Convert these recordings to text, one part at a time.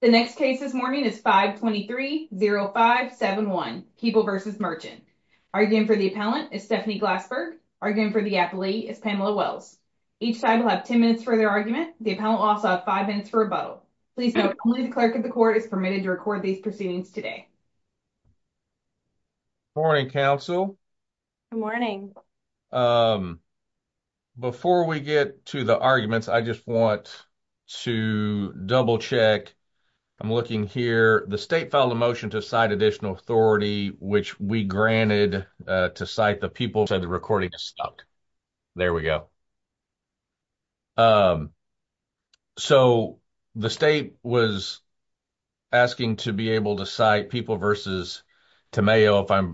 The next case this morning is 523-0571, People v. Merchant. Arguing for the appellant is Stephanie Glassberg. Arguing for the appellee is Pamela Wells. Each side will have 10 minutes for their argument. The appellant will also have 5 minutes for rebuttal. Please note, only the clerk of the court is permitted to record these proceedings today. Good morning, counsel. Good morning. Before we get to the arguments, I just want to double check. I'm looking here. The state filed a motion to cite additional authority, which we granted to cite the People v. Tamayo. So, the state was asking to be able to cite People v. Tamayo.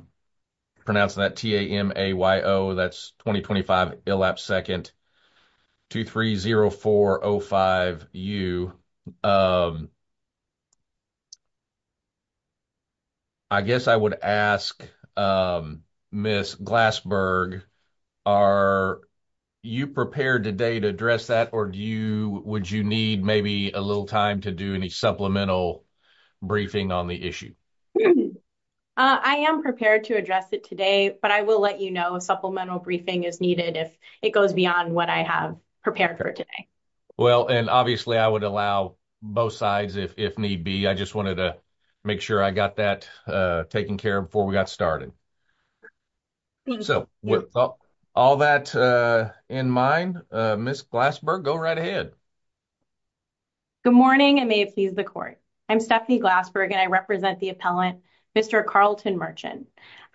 That's 20-25 Illapse 2nd, 230-405-U. I guess I would ask Ms. Glassberg, are you prepared today to address that, or would you need maybe a little time to do any supplemental briefing on the issue? I am prepared to address it today, but I will let you know if supplemental briefing is needed if it goes beyond what I have prepared for today. Obviously, I would allow both sides if need be. I just wanted to make sure I got that taken care of before we got started. With all that in mind, Ms. Glassberg, go right ahead. Good morning, and may it please the court. I'm Stephanie Glassberg, and I represent the appellant, Mr. Carlton Merchant.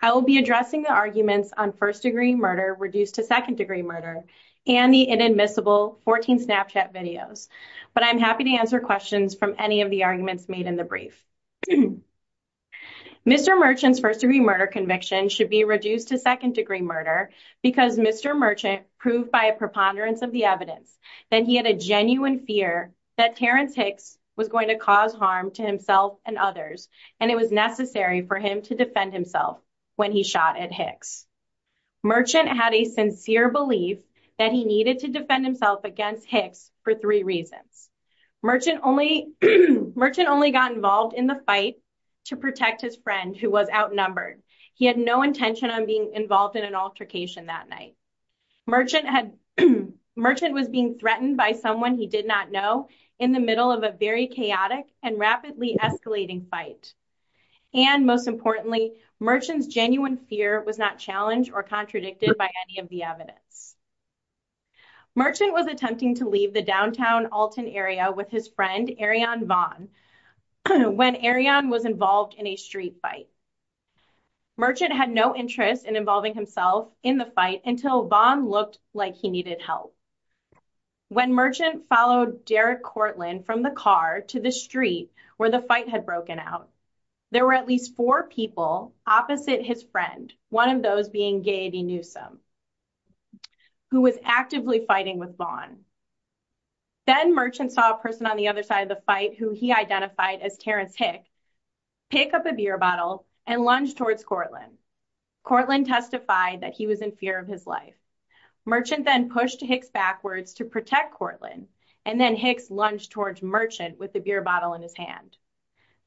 I will be addressing the arguments on first-degree murder reduced to second-degree murder and the inadmissible 14 Snapchat videos, but I'm happy to answer questions from any of the arguments made in the brief. Mr. Merchant's first-degree murder conviction should be reduced to second-degree murder because Mr. Merchant proved by a preponderance of the evidence that he had a genuine fear that Terence Hicks was going to cause harm to himself and others, and it was necessary for him to defend himself when he shot at Hicks. Merchant had a sincere belief that he needed to defend himself against Hicks for three reasons. Merchant only got involved in the fight to protect his friend, who was outnumbered. He had no intention of being involved in an altercation that night. Merchant had Merchant was being threatened by someone he did not know in the middle of a very chaotic and rapidly escalating fight, and most importantly, Merchant's genuine fear was not challenged or contradicted by any of the evidence. Merchant was attempting to leave the downtown Alton area with his friend, Arion Vaughn, when Arion was involved in a street fight. Merchant had no interest in involving himself in the fight until Vaughn looked like he needed help. When Merchant followed Derek Cortland from the car to the street where the fight had broken out, there were at least four people opposite his friend, one of those being Gaiety Newsome, who was actively fighting with Vaughn. Then Merchant saw a person on the other side of the fight who he identified as Terence Hicks pick up a beer bottle and lunge towards Cortland. Cortland testified that he was in fear of his life. Merchant then pushed Hicks backwards to protect Cortland, and then Hicks lunged towards Merchant with the beer bottle in his hand.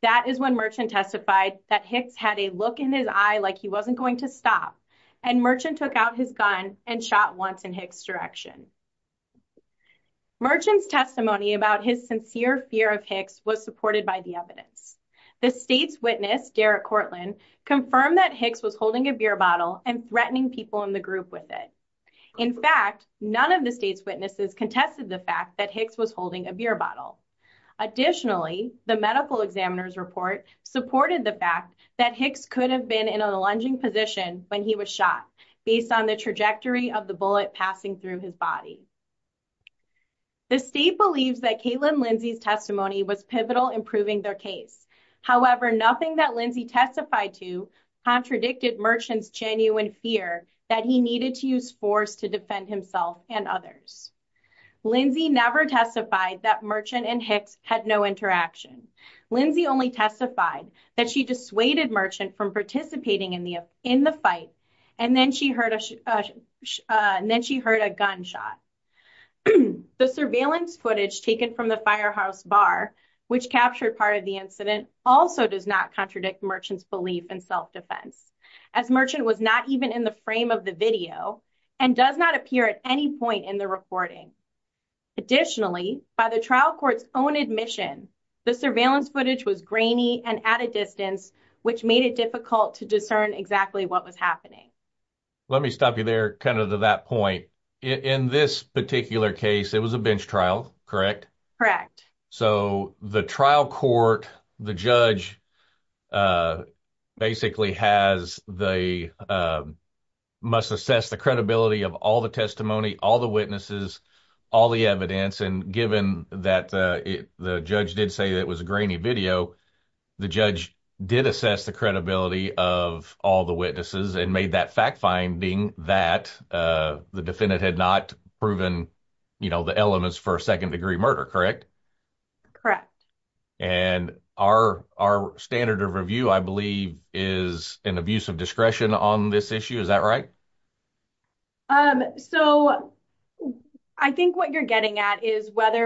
That is when Merchant testified that Hicks had a look in his eye like he wasn't going to stop, and Merchant took out his gun and shot once in Hicks' direction. Merchant's testimony about his sincere fear of Hicks was supported by the evidence. The state's witness, Derek Cortland, confirmed that Hicks was holding a beer bottle and threatening people in the group with it. In fact, none of the state's witnesses contested the fact that Hicks was holding a beer bottle. Additionally, the medical examiner's report supported the fact that Hicks could have been in a lunging position when he was shot based on the trajectory of the bullet passing through his body. The state believes that Kaitlyn Lindsay's testimony was pivotal in proving their case. However, nothing that Lindsay testified to contradicted Merchant's genuine fear that he needed to use force to defend himself and others. Lindsay never testified that Merchant and Hicks had no interaction. Lindsay only testified that she dissuaded Merchant from participating in the fight, and then she heard a gunshot. The surveillance footage taken from the Firehouse Bar, which captured part of the incident, also does not contradict Merchant's belief in self-defense, as Merchant was not even in the frame of the video and does not appear at any point in the recording. Additionally, by the trial court's own admission, the surveillance footage was grainy and at a distance, which made it difficult to discern exactly what was happening. Let me stop you there, kind of to that point. In this particular case, it was a bench trial, correct? Correct. So the trial court, the judge, basically must assess the credibility of all the testimony, all the witnesses, all the evidence. And given that the judge did say that it was a grainy video, the judge did assess the credibility of all the witnesses and made that fact finding that the defendant had not proven the elements for a second-degree murder, correct? Correct. And our standard of review, I believe, is an abuse of discretion on this issue, is that right? So I think what you're getting at is whether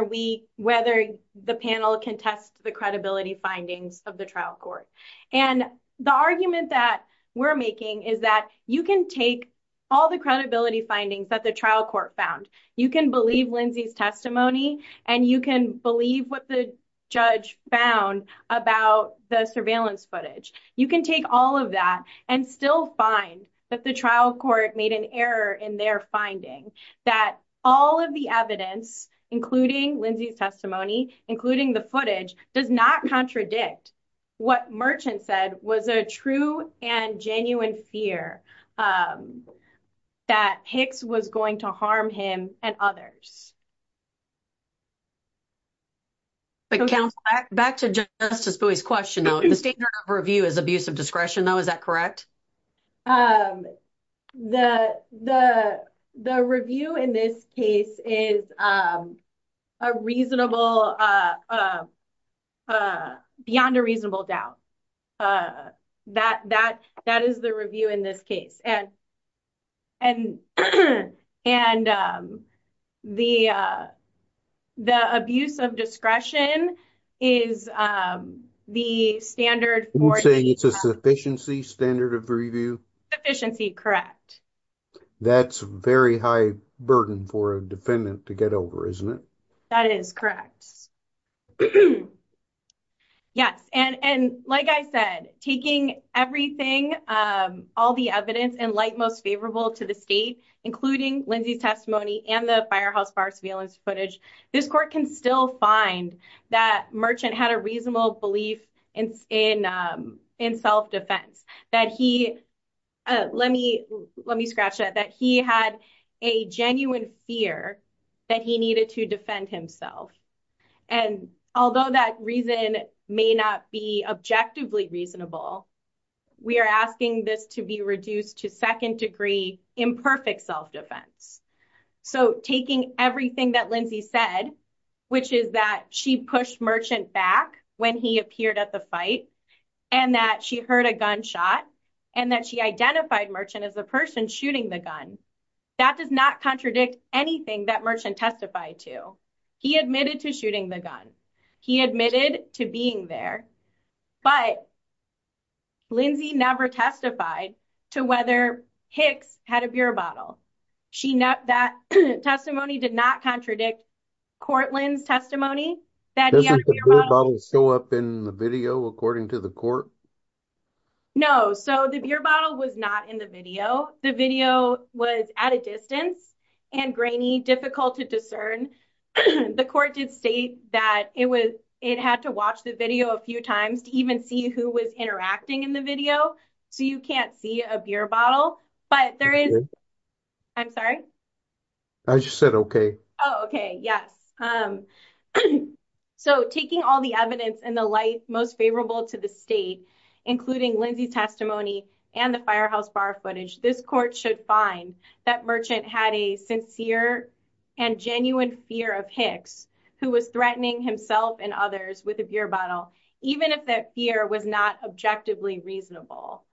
the panel can test the credibility findings of the trial court. And the argument that we're making is that you can take all the credibility findings that the trial court found, you can believe Lindsay's testimony, and you can believe what the judge found about the surveillance footage. You can take all of that and still find that the trial court made an error in their finding, that all of the evidence, including Lindsay's testimony, including the footage, does not contradict what Merchant said was a true and genuine fear that Hicks was going to harm him and others. Back to Justice Bowie's question, though, the standard of review is abuse of discretion, though, is that correct? The review in this case is a reasonable, beyond a reasonable doubt. That is the review in this case. And the abuse of discretion is the standard for- It's a sufficiency standard of review? Sufficiency, correct. That's very high burden for a defendant to get over, isn't it? That is correct. Yes. And like I said, taking everything, all the evidence, and like most favorable to the state, including Lindsay's testimony and the firehouse fire surveillance footage, this court can still find that Merchant had a reasonable belief in self-defense, that he, let me scratch that, that he had a genuine fear that he needed to defend himself. And although that reason may not be objectively reasonable, we are asking this to be reduced to second degree imperfect self-defense. So taking everything that Lindsay said, which is she pushed Merchant back when he appeared at the fight, and that she heard a gunshot, and that she identified Merchant as the person shooting the gun, that does not contradict anything that Merchant testified to. He admitted to shooting the gun. He admitted to being there. But Lindsay never testified to whether Hicks had a beer bottle. That testimony did not contradict Courtland's testimony. Does the beer bottle show up in the video according to the court? No. So the beer bottle was not in the video. The video was at a distance and grainy, difficult to discern. The court did state that it had to watch the video a few times to even see who was interacting in the video. So you can't see a beer bottle, but there is, I'm sorry. I just said, okay. Oh, okay. Yes. So taking all the evidence and the light most favorable to the state, including Lindsay's testimony and the firehouse bar footage, this court should find that Merchant had a sincere and genuine fear of Hicks, who was threatening himself and others with a beer bottle, even if that fear was not objectively reasonable.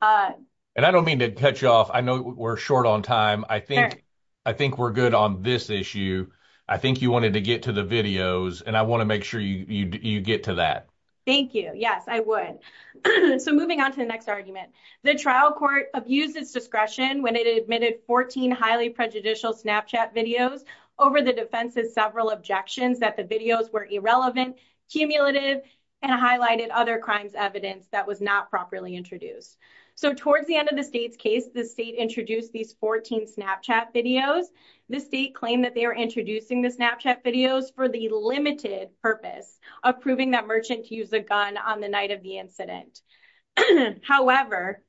And I don't mean to cut you off. I know we're short on time. I think we're good on this issue. I think you wanted to get to the videos and I want to make sure you get to that. Thank you. Yes, I would. So moving on to the next argument. The trial court abused its discretion when it admitted 14 highly prejudicial Snapchat videos over the defense's several objections that the videos were irrelevant, cumulative, and highlighted other crimes evidence that was not properly introduced. So towards the end of the state's case, the state introduced these 14 Snapchat videos. The state claimed that they were introducing the Snapchat videos for the limited purpose of proving that Merchant used a gun on the night of the incident. However,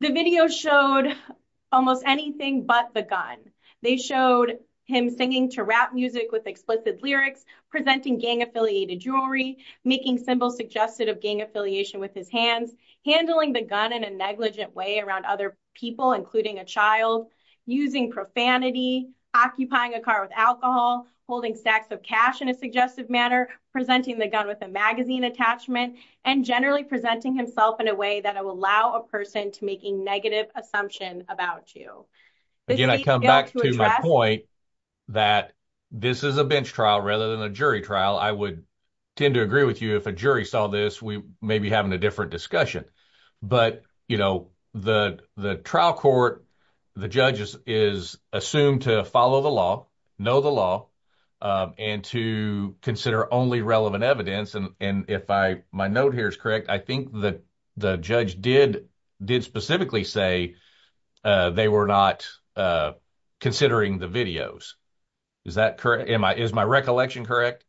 the video showed almost anything but the gun. They showed him singing to rap music with explicit lyrics, presenting gang affiliated jewelry, making symbols suggested of gang affiliation with his hands, handling the gun in a negligent way around other people, including a child, using profanity, occupying a car with alcohol, holding stacks of cash in a suggestive manner, presenting the gun with a magazine attachment, and generally presenting himself in a way that will allow a person to make a negative assumption about you. Again, I come back to my point that this is a bench trial rather than a jury trial. I would tend to agree with you. If a jury saw this, we may be in a different discussion. But the trial court, the judge is assumed to follow the law, know the law, and to consider only relevant evidence. If my note here is correct, I think the judge did specifically say they were not considering the videos. Is my recollection correct?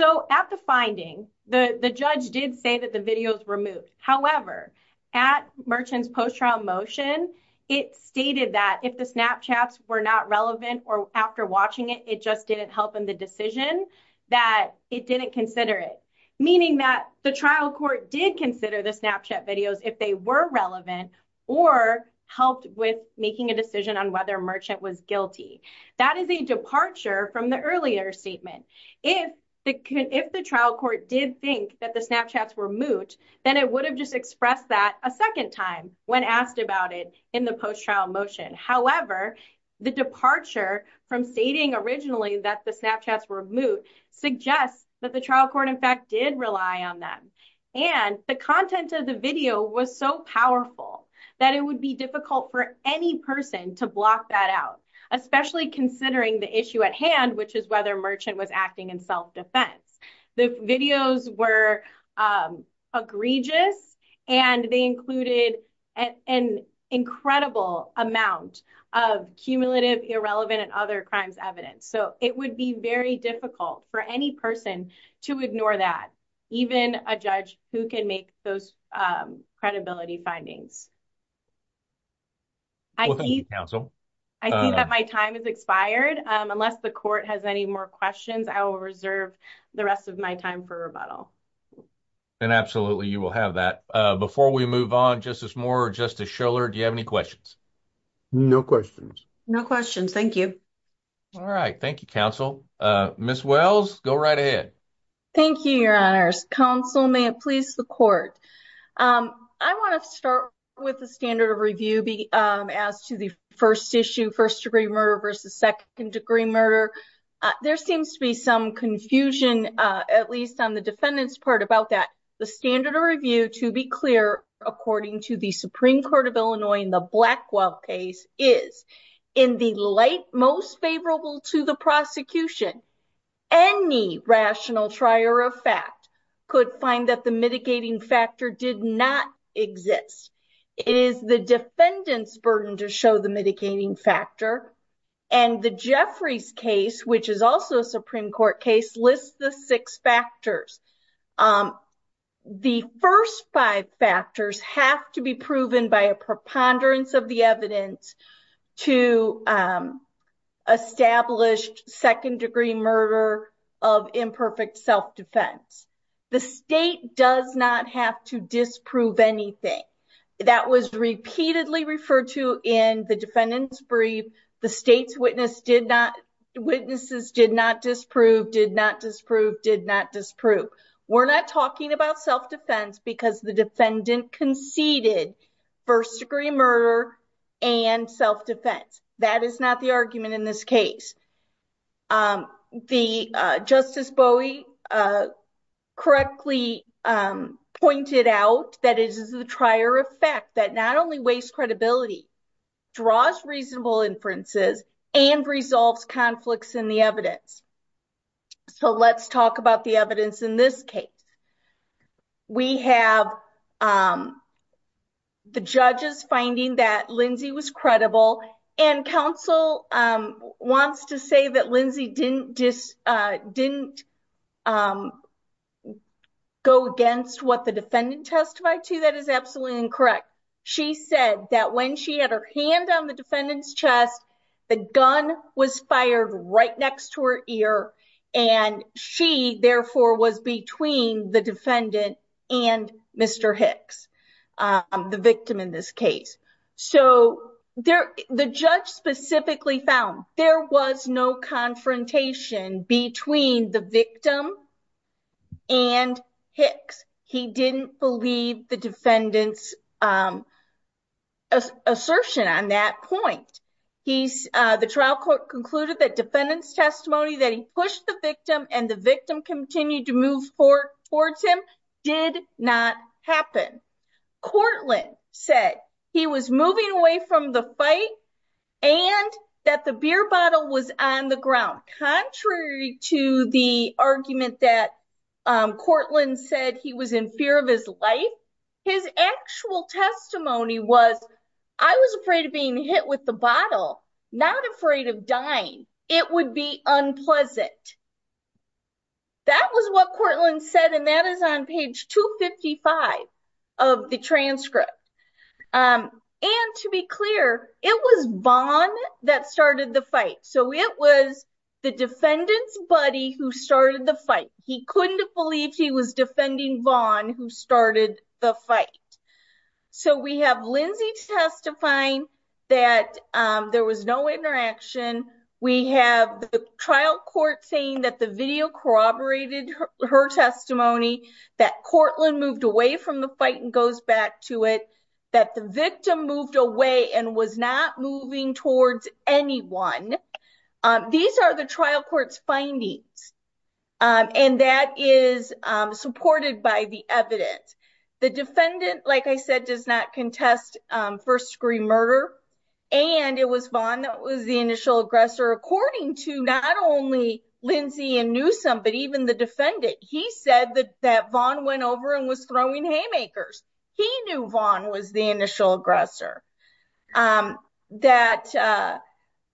So at the finding, the judge did say that the videos were removed. However, at Merchant's post-trial motion, it stated that if the Snapchats were not relevant or after watching it, it just didn't help in the decision, that it didn't consider it. Meaning that the trial court did consider the Snapchat videos if they were relevant or helped with making a decision on whether Merchant was guilty. That is a departure from the earlier statement. If the trial court did think that the Snapchats were moot, then it would have just expressed that a second time when asked about it in the post-trial motion. However, the departure from stating originally that the Snapchats were moot suggests that the trial court in fact did rely on them. And the content of the especially considering the issue at hand, which is whether Merchant was acting in self-defense. The videos were egregious, and they included an incredible amount of cumulative, irrelevant, and other crimes evidence. So it would be very difficult for any person to ignore that. Even a judge who can make those credibility findings. I think that my time has expired. Unless the court has any more questions, I will reserve the rest of my time for rebuttal. And absolutely, you will have that. Before we move on, Justice Moore, Justice Schiller, do you have any questions? No questions. No questions. Thank you. All right. Thank you, counsel. Ms. Wells, go right ahead. Thank you, Your Honors. Counsel, may it please the court. I want to start with the standard of review as to the first issue, first degree murder versus second degree murder. There seems to be some confusion, at least on the defendant's part about that. The standard of review, to be clear, according to the Supreme Court of Illinois in the fact, could find that the mitigating factor did not exist. It is the defendant's burden to show the mitigating factor. And the Jeffries case, which is also a Supreme Court case, lists the six factors. The first five factors have to be proven by a preponderance of the evidence to establish second degree murder of imperfect self-defense. The state does not have to disprove anything. That was repeatedly referred to in the defendant's brief. The state's witnesses did not disprove, did not disprove, did not disprove. We're not talking about self-defense because the defendant conceded first degree murder and self-defense. That is not the argument in this case. Justice Bowie correctly pointed out that it is the trier effect that not only wastes credibility, draws reasonable inferences, and resolves conflicts in the evidence. So let's talk about the evidence in this case. We have the judges finding that Lindsey was credible. And counsel wants to say that Lindsey didn't go against what the defendant testified to. That is absolutely incorrect. She said that when she had her hand on the defendant's chest, the gun was fired right next to her ear. And she, therefore, was between the defendant and Mr. Hicks, the victim in this case. So the judge specifically found there was no confrontation between the victim and Hicks. He didn't believe the defendant's assertion on that point. The trial court concluded that defendant's testimony that he pushed the victim and the victim continued to move forward towards him did not happen. Courtland said he was moving away from the fight and that the beer bottle was on the ground. Contrary to the argument that Courtland said he was in fear of his life, his actual testimony was, I was afraid of being hit with the bottle, not afraid of dying. It would be unpleasant. That was what Courtland said. And that is on page 255 of the transcript. And to be clear, it was Vaughn that started the fight. So it was the defendant's buddy who started the fight. He couldn't have believed he was defending Vaughn who started the fight. So we have Lindsey testifying that there was no interaction. We have the trial court saying that the video corroborated her testimony, that Courtland moved away from the fight and goes back to it, that the victim moved away and was not moving towards anyone. These are the trial court's findings. And that is supported by the evidence. The defendant, like I said, does not contest first-degree murder. And it was Vaughn that was the initial aggressor. According to not only Lindsey and Newsom, but even the defendant, he said that Vaughn went over and was throwing haymakers. He knew Vaughn was the initial aggressor. That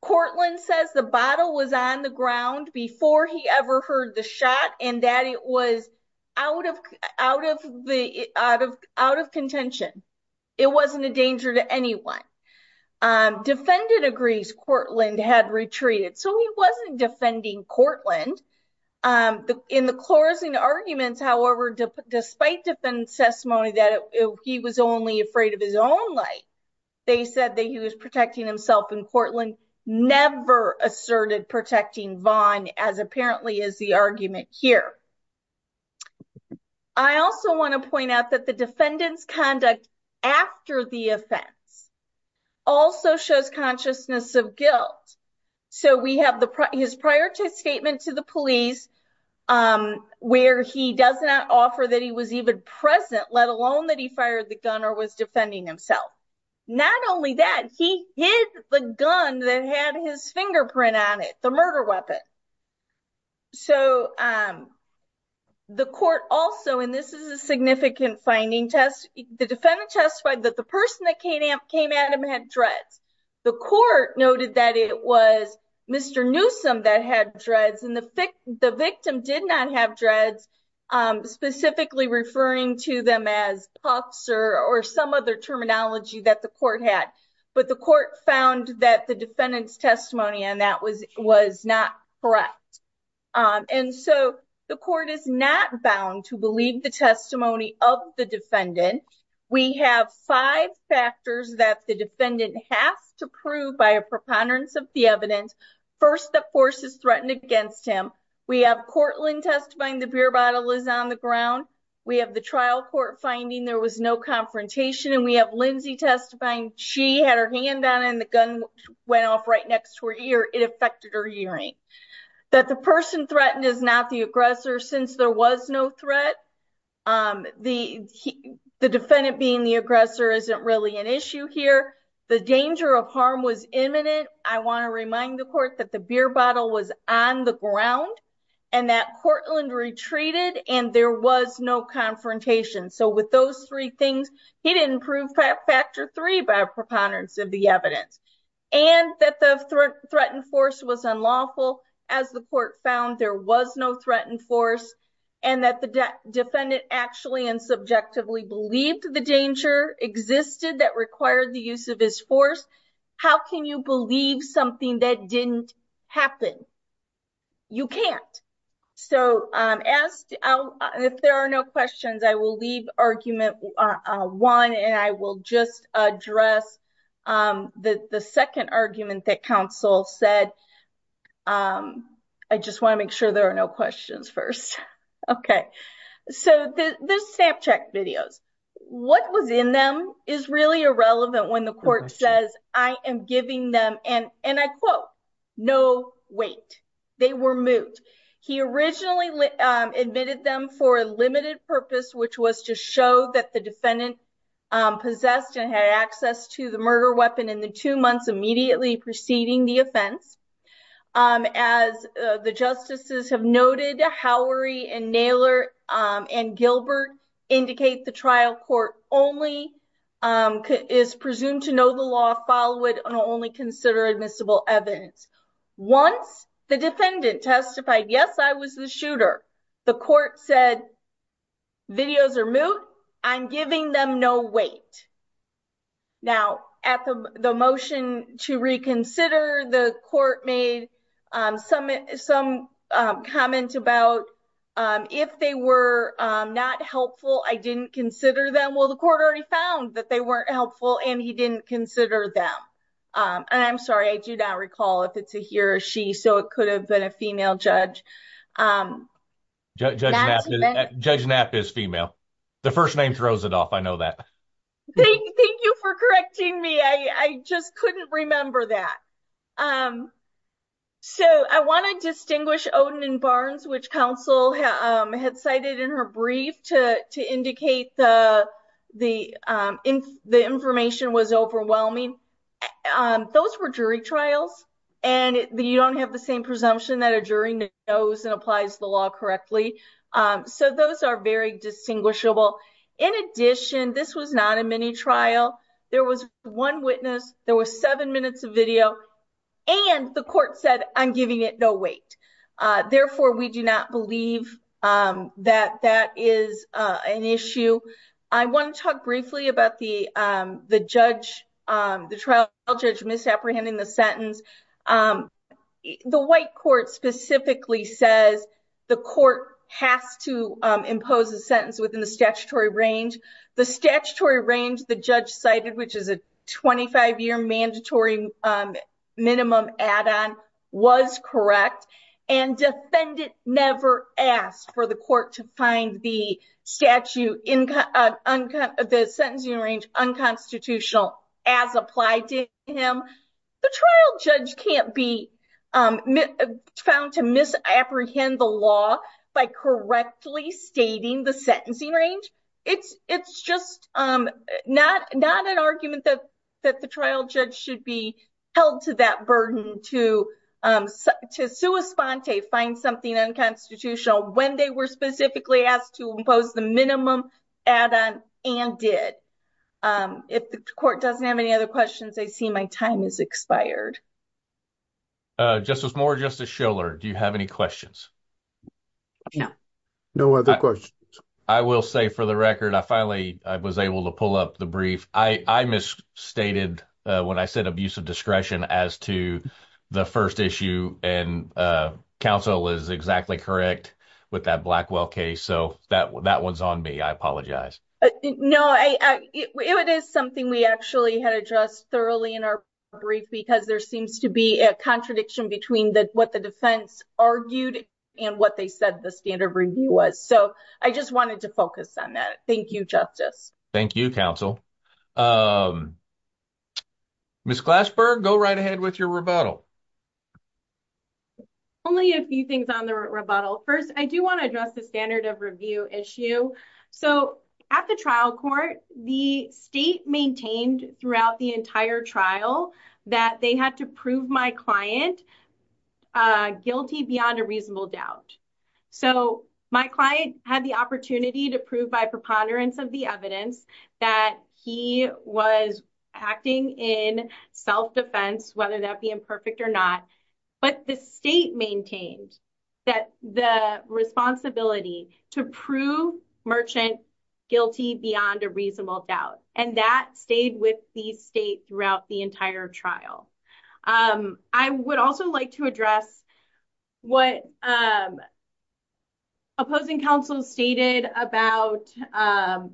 Courtland says the bottle was on the ground before he ever heard the shot, and that it was out of contention. It wasn't a danger to anyone. Defendant agrees Courtland had retreated. So he wasn't defending Courtland. In the closing arguments, however, despite defendant's testimony that he was only afraid of his own life, they said that he was protecting himself, and Courtland never asserted protecting Vaughn, as apparently is the argument here. I also want to point out that the defendant's conduct after the offense also shows consciousness of guilt. So we have his prior statement to the police, where he does not offer that he was even present, let alone that he fired the gun or was defending himself. Not only that, he hid the gun that had his fingerprint on it, the murder weapon. So the court also, and this is a significant finding test, the defendant testified that the person that came at him had dreads. The court noted that it was Mr. Newsom that had dreads, the victim did not have dreads, specifically referring to them as puffs or some other terminology that the court had. But the court found that the defendant's testimony on that was not correct. And so the court is not bound to believe the testimony of the defendant. We have five factors that the defendant has to prove by a preponderance of the evidence. First, that force is threatened against him. We have Courtland testifying the beer bottle is on the ground. We have the trial court finding there was no confrontation. And we have Lindsay testifying she had her hand down and the gun went off right next to her ear, it affected her hearing. That the person threatened is not the aggressor, since there was no threat. The defendant being the aggressor isn't really an issue here. The danger of harm was imminent. I want to remind the court that the beer bottle was on the ground, and that Courtland retreated and there was no confrontation. So with those three things, he didn't prove factor three by preponderance of the evidence, and that the threat and force was unlawful. As the court found, there was no threat and force, and that the defendant actually and subjectively believed the danger existed that required the use of his force. How can you believe something that didn't happen? You can't. So if there are no questions, I will leave argument one and I will just address the second argument that counsel said. I just want to make sure there are no questions first. Okay, so the stamp check videos, what was in them is really irrelevant when the court says, I am giving them and and I quote, no, wait, they were moved. He originally admitted them for a limited purpose, which was to show that the defendant possessed and had access to the murder weapon in the two months immediately preceding the offense. As the justices have noted, Howery and Naylor and Gilbert indicate the trial court only is presumed to know the law, follow it, and only consider admissible evidence. Once the defendant testified, yes, I was the shooter, the court said, videos are moved, I'm giving them no weight. Now, at the motion to reconsider, the court made some comment about if they were not helpful, I didn't consider them. Well, the court already found that they weren't helpful and he didn't consider them. I'm sorry, I do not recall if it's a he or she, so it could have been a female judge. Judge Knapp is female. The first name throws it off, I know that. Thank you for correcting me, I just couldn't remember that. So I want to distinguish Odin and Barnes, which counsel had cited in her brief to indicate the information was overwhelming. Those were jury trials and you don't have the same presumption that a jury knows and applies the law correctly. So those are very distinguishable. In addition, this was not a mini trial. There was one witness, there were seven minutes of video, and the court said, I'm giving it no weight. Therefore, we do not believe that that is an issue. I want to talk briefly about the trial judge misapprehending the sentence. The white court specifically says the court has to impose a sentence within the statutory range. The statutory range the judge cited, which is a 25-year mandatory minimum add-on, was correct, and defendant never asked for the court to find the sentencing range unconstitutional as applied to him. The trial judge can't be found to misapprehend the law by correctly stating the sentencing range. It's just not an argument that the trial judge should be held to that burden to sua sponte, find something unconstitutional, when they were specifically asked to impose the minimum add-on and did. If the court doesn't have any other questions, I see my time has expired. Justice Moore, Justice Schiller, do you have any questions? No. No other questions. I will say for the record, I finally was able to pull up the brief. I misstated when I said abuse of discretion as to the first issue, and counsel is exactly correct with that Blackwell case, so that one's on me. I apologize. No, it is something we actually had addressed thoroughly in our brief because there seems to be a contradiction between what the defense argued and what they said the standard review was. So, just wanted to focus on that. Thank you, Justice. Thank you, counsel. Ms. Clashberg, go right ahead with your rebuttal. Only a few things on the rebuttal. First, I do want to address the standard of review issue. So, at the trial court, the state maintained throughout the entire trial that they had to client guilty beyond a reasonable doubt. So, my client had the opportunity to prove by preponderance of the evidence that he was acting in self-defense, whether that be imperfect or not, but the state maintained that the responsibility to prove merchant guilty beyond a reasonable doubt, and that stayed with the state throughout the entire trial. I would also like to address what opposing counsel stated about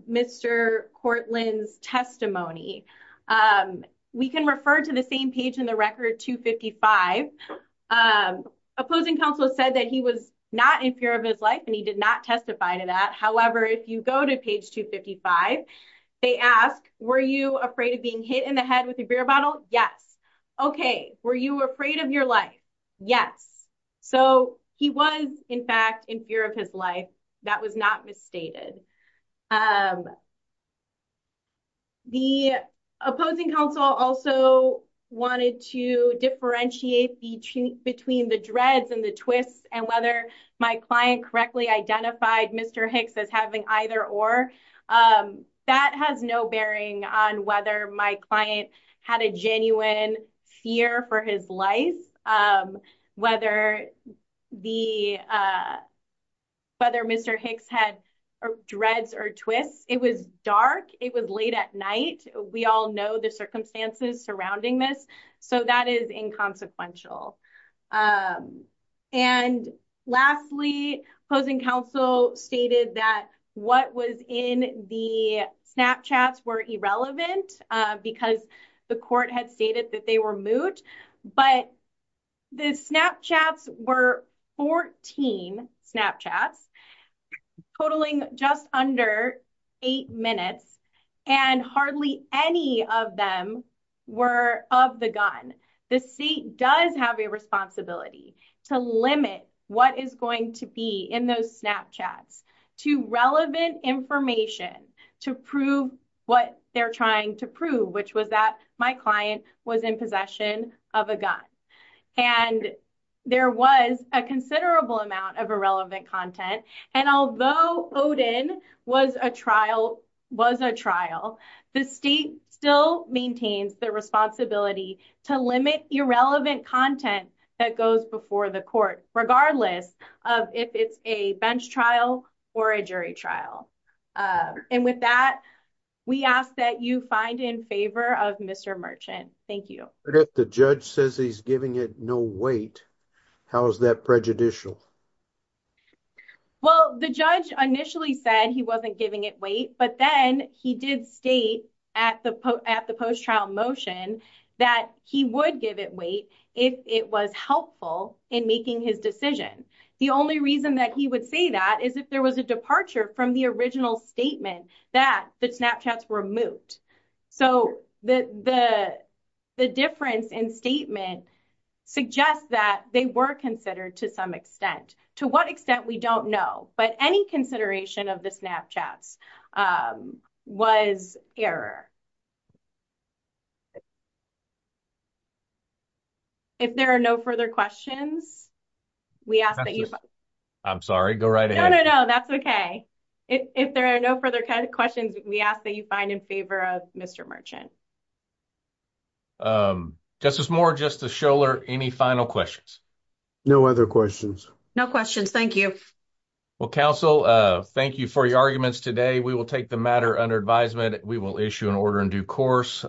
Mr. Courtland's testimony. We can refer to the same page in the record 255. Opposing counsel said that he was not in fear of his life, and he did not testify to that. However, if you go to page 255, they ask, were you afraid of being hit in the head with a beer bottle? Yes. Okay. Were you afraid of your life? Yes. So, he was, in fact, in fear of his life. That was not misstated. The opposing counsel also wanted to differentiate between the dreads and the twists and whether my client correctly identified Mr. Hicks as having either or. That has no bearing on whether my client had a genuine fear for his life, whether Mr. Hicks had dreads or twists. It was dark. It was late at night. We all know the circumstances surrounding this, so that is inconsequential. Lastly, opposing counsel stated that what was in the Snapchats were irrelevant because the court had stated that they were moot, but the Snapchats were 14 Snapchats, totaling just under eight minutes, and hardly any of them were of the gun. The state does have a responsibility to limit what is going to be in those Snapchats to relevant information to prove what they're trying to prove, which was that my client was in possession of a gun. And there was a considerable amount of irrelevant content, and although Odin was a trial, the state still maintains the responsibility to limit irrelevant content that goes before the court, regardless of if it's a bench trial or a jury trial. And with that, we ask that you find in of Mr. Merchant. Thank you. If the judge says he's giving it no weight, how is that prejudicial? Well, the judge initially said he wasn't giving it weight, but then he did state at the post-trial motion that he would give it weight if it was helpful in making his decision. The only reason that he would say that is if there was a departure from the original statement that the Snapchats were moot. So, the difference in statement suggests that they were considered to some extent. To what extent, we don't know, but any consideration of the Snapchats was error. If there are no further questions, we ask that you... I'm sorry, go right ahead. No, no, no, that's okay. If there are no further questions, we ask that you find in favor of Mr. Merchant. Justice Moore, Justice Scholar, any final questions? No other questions. No questions, thank you. Well, counsel, thank you for your arguments today. We will take the matter under advisement. We will issue an order in due course.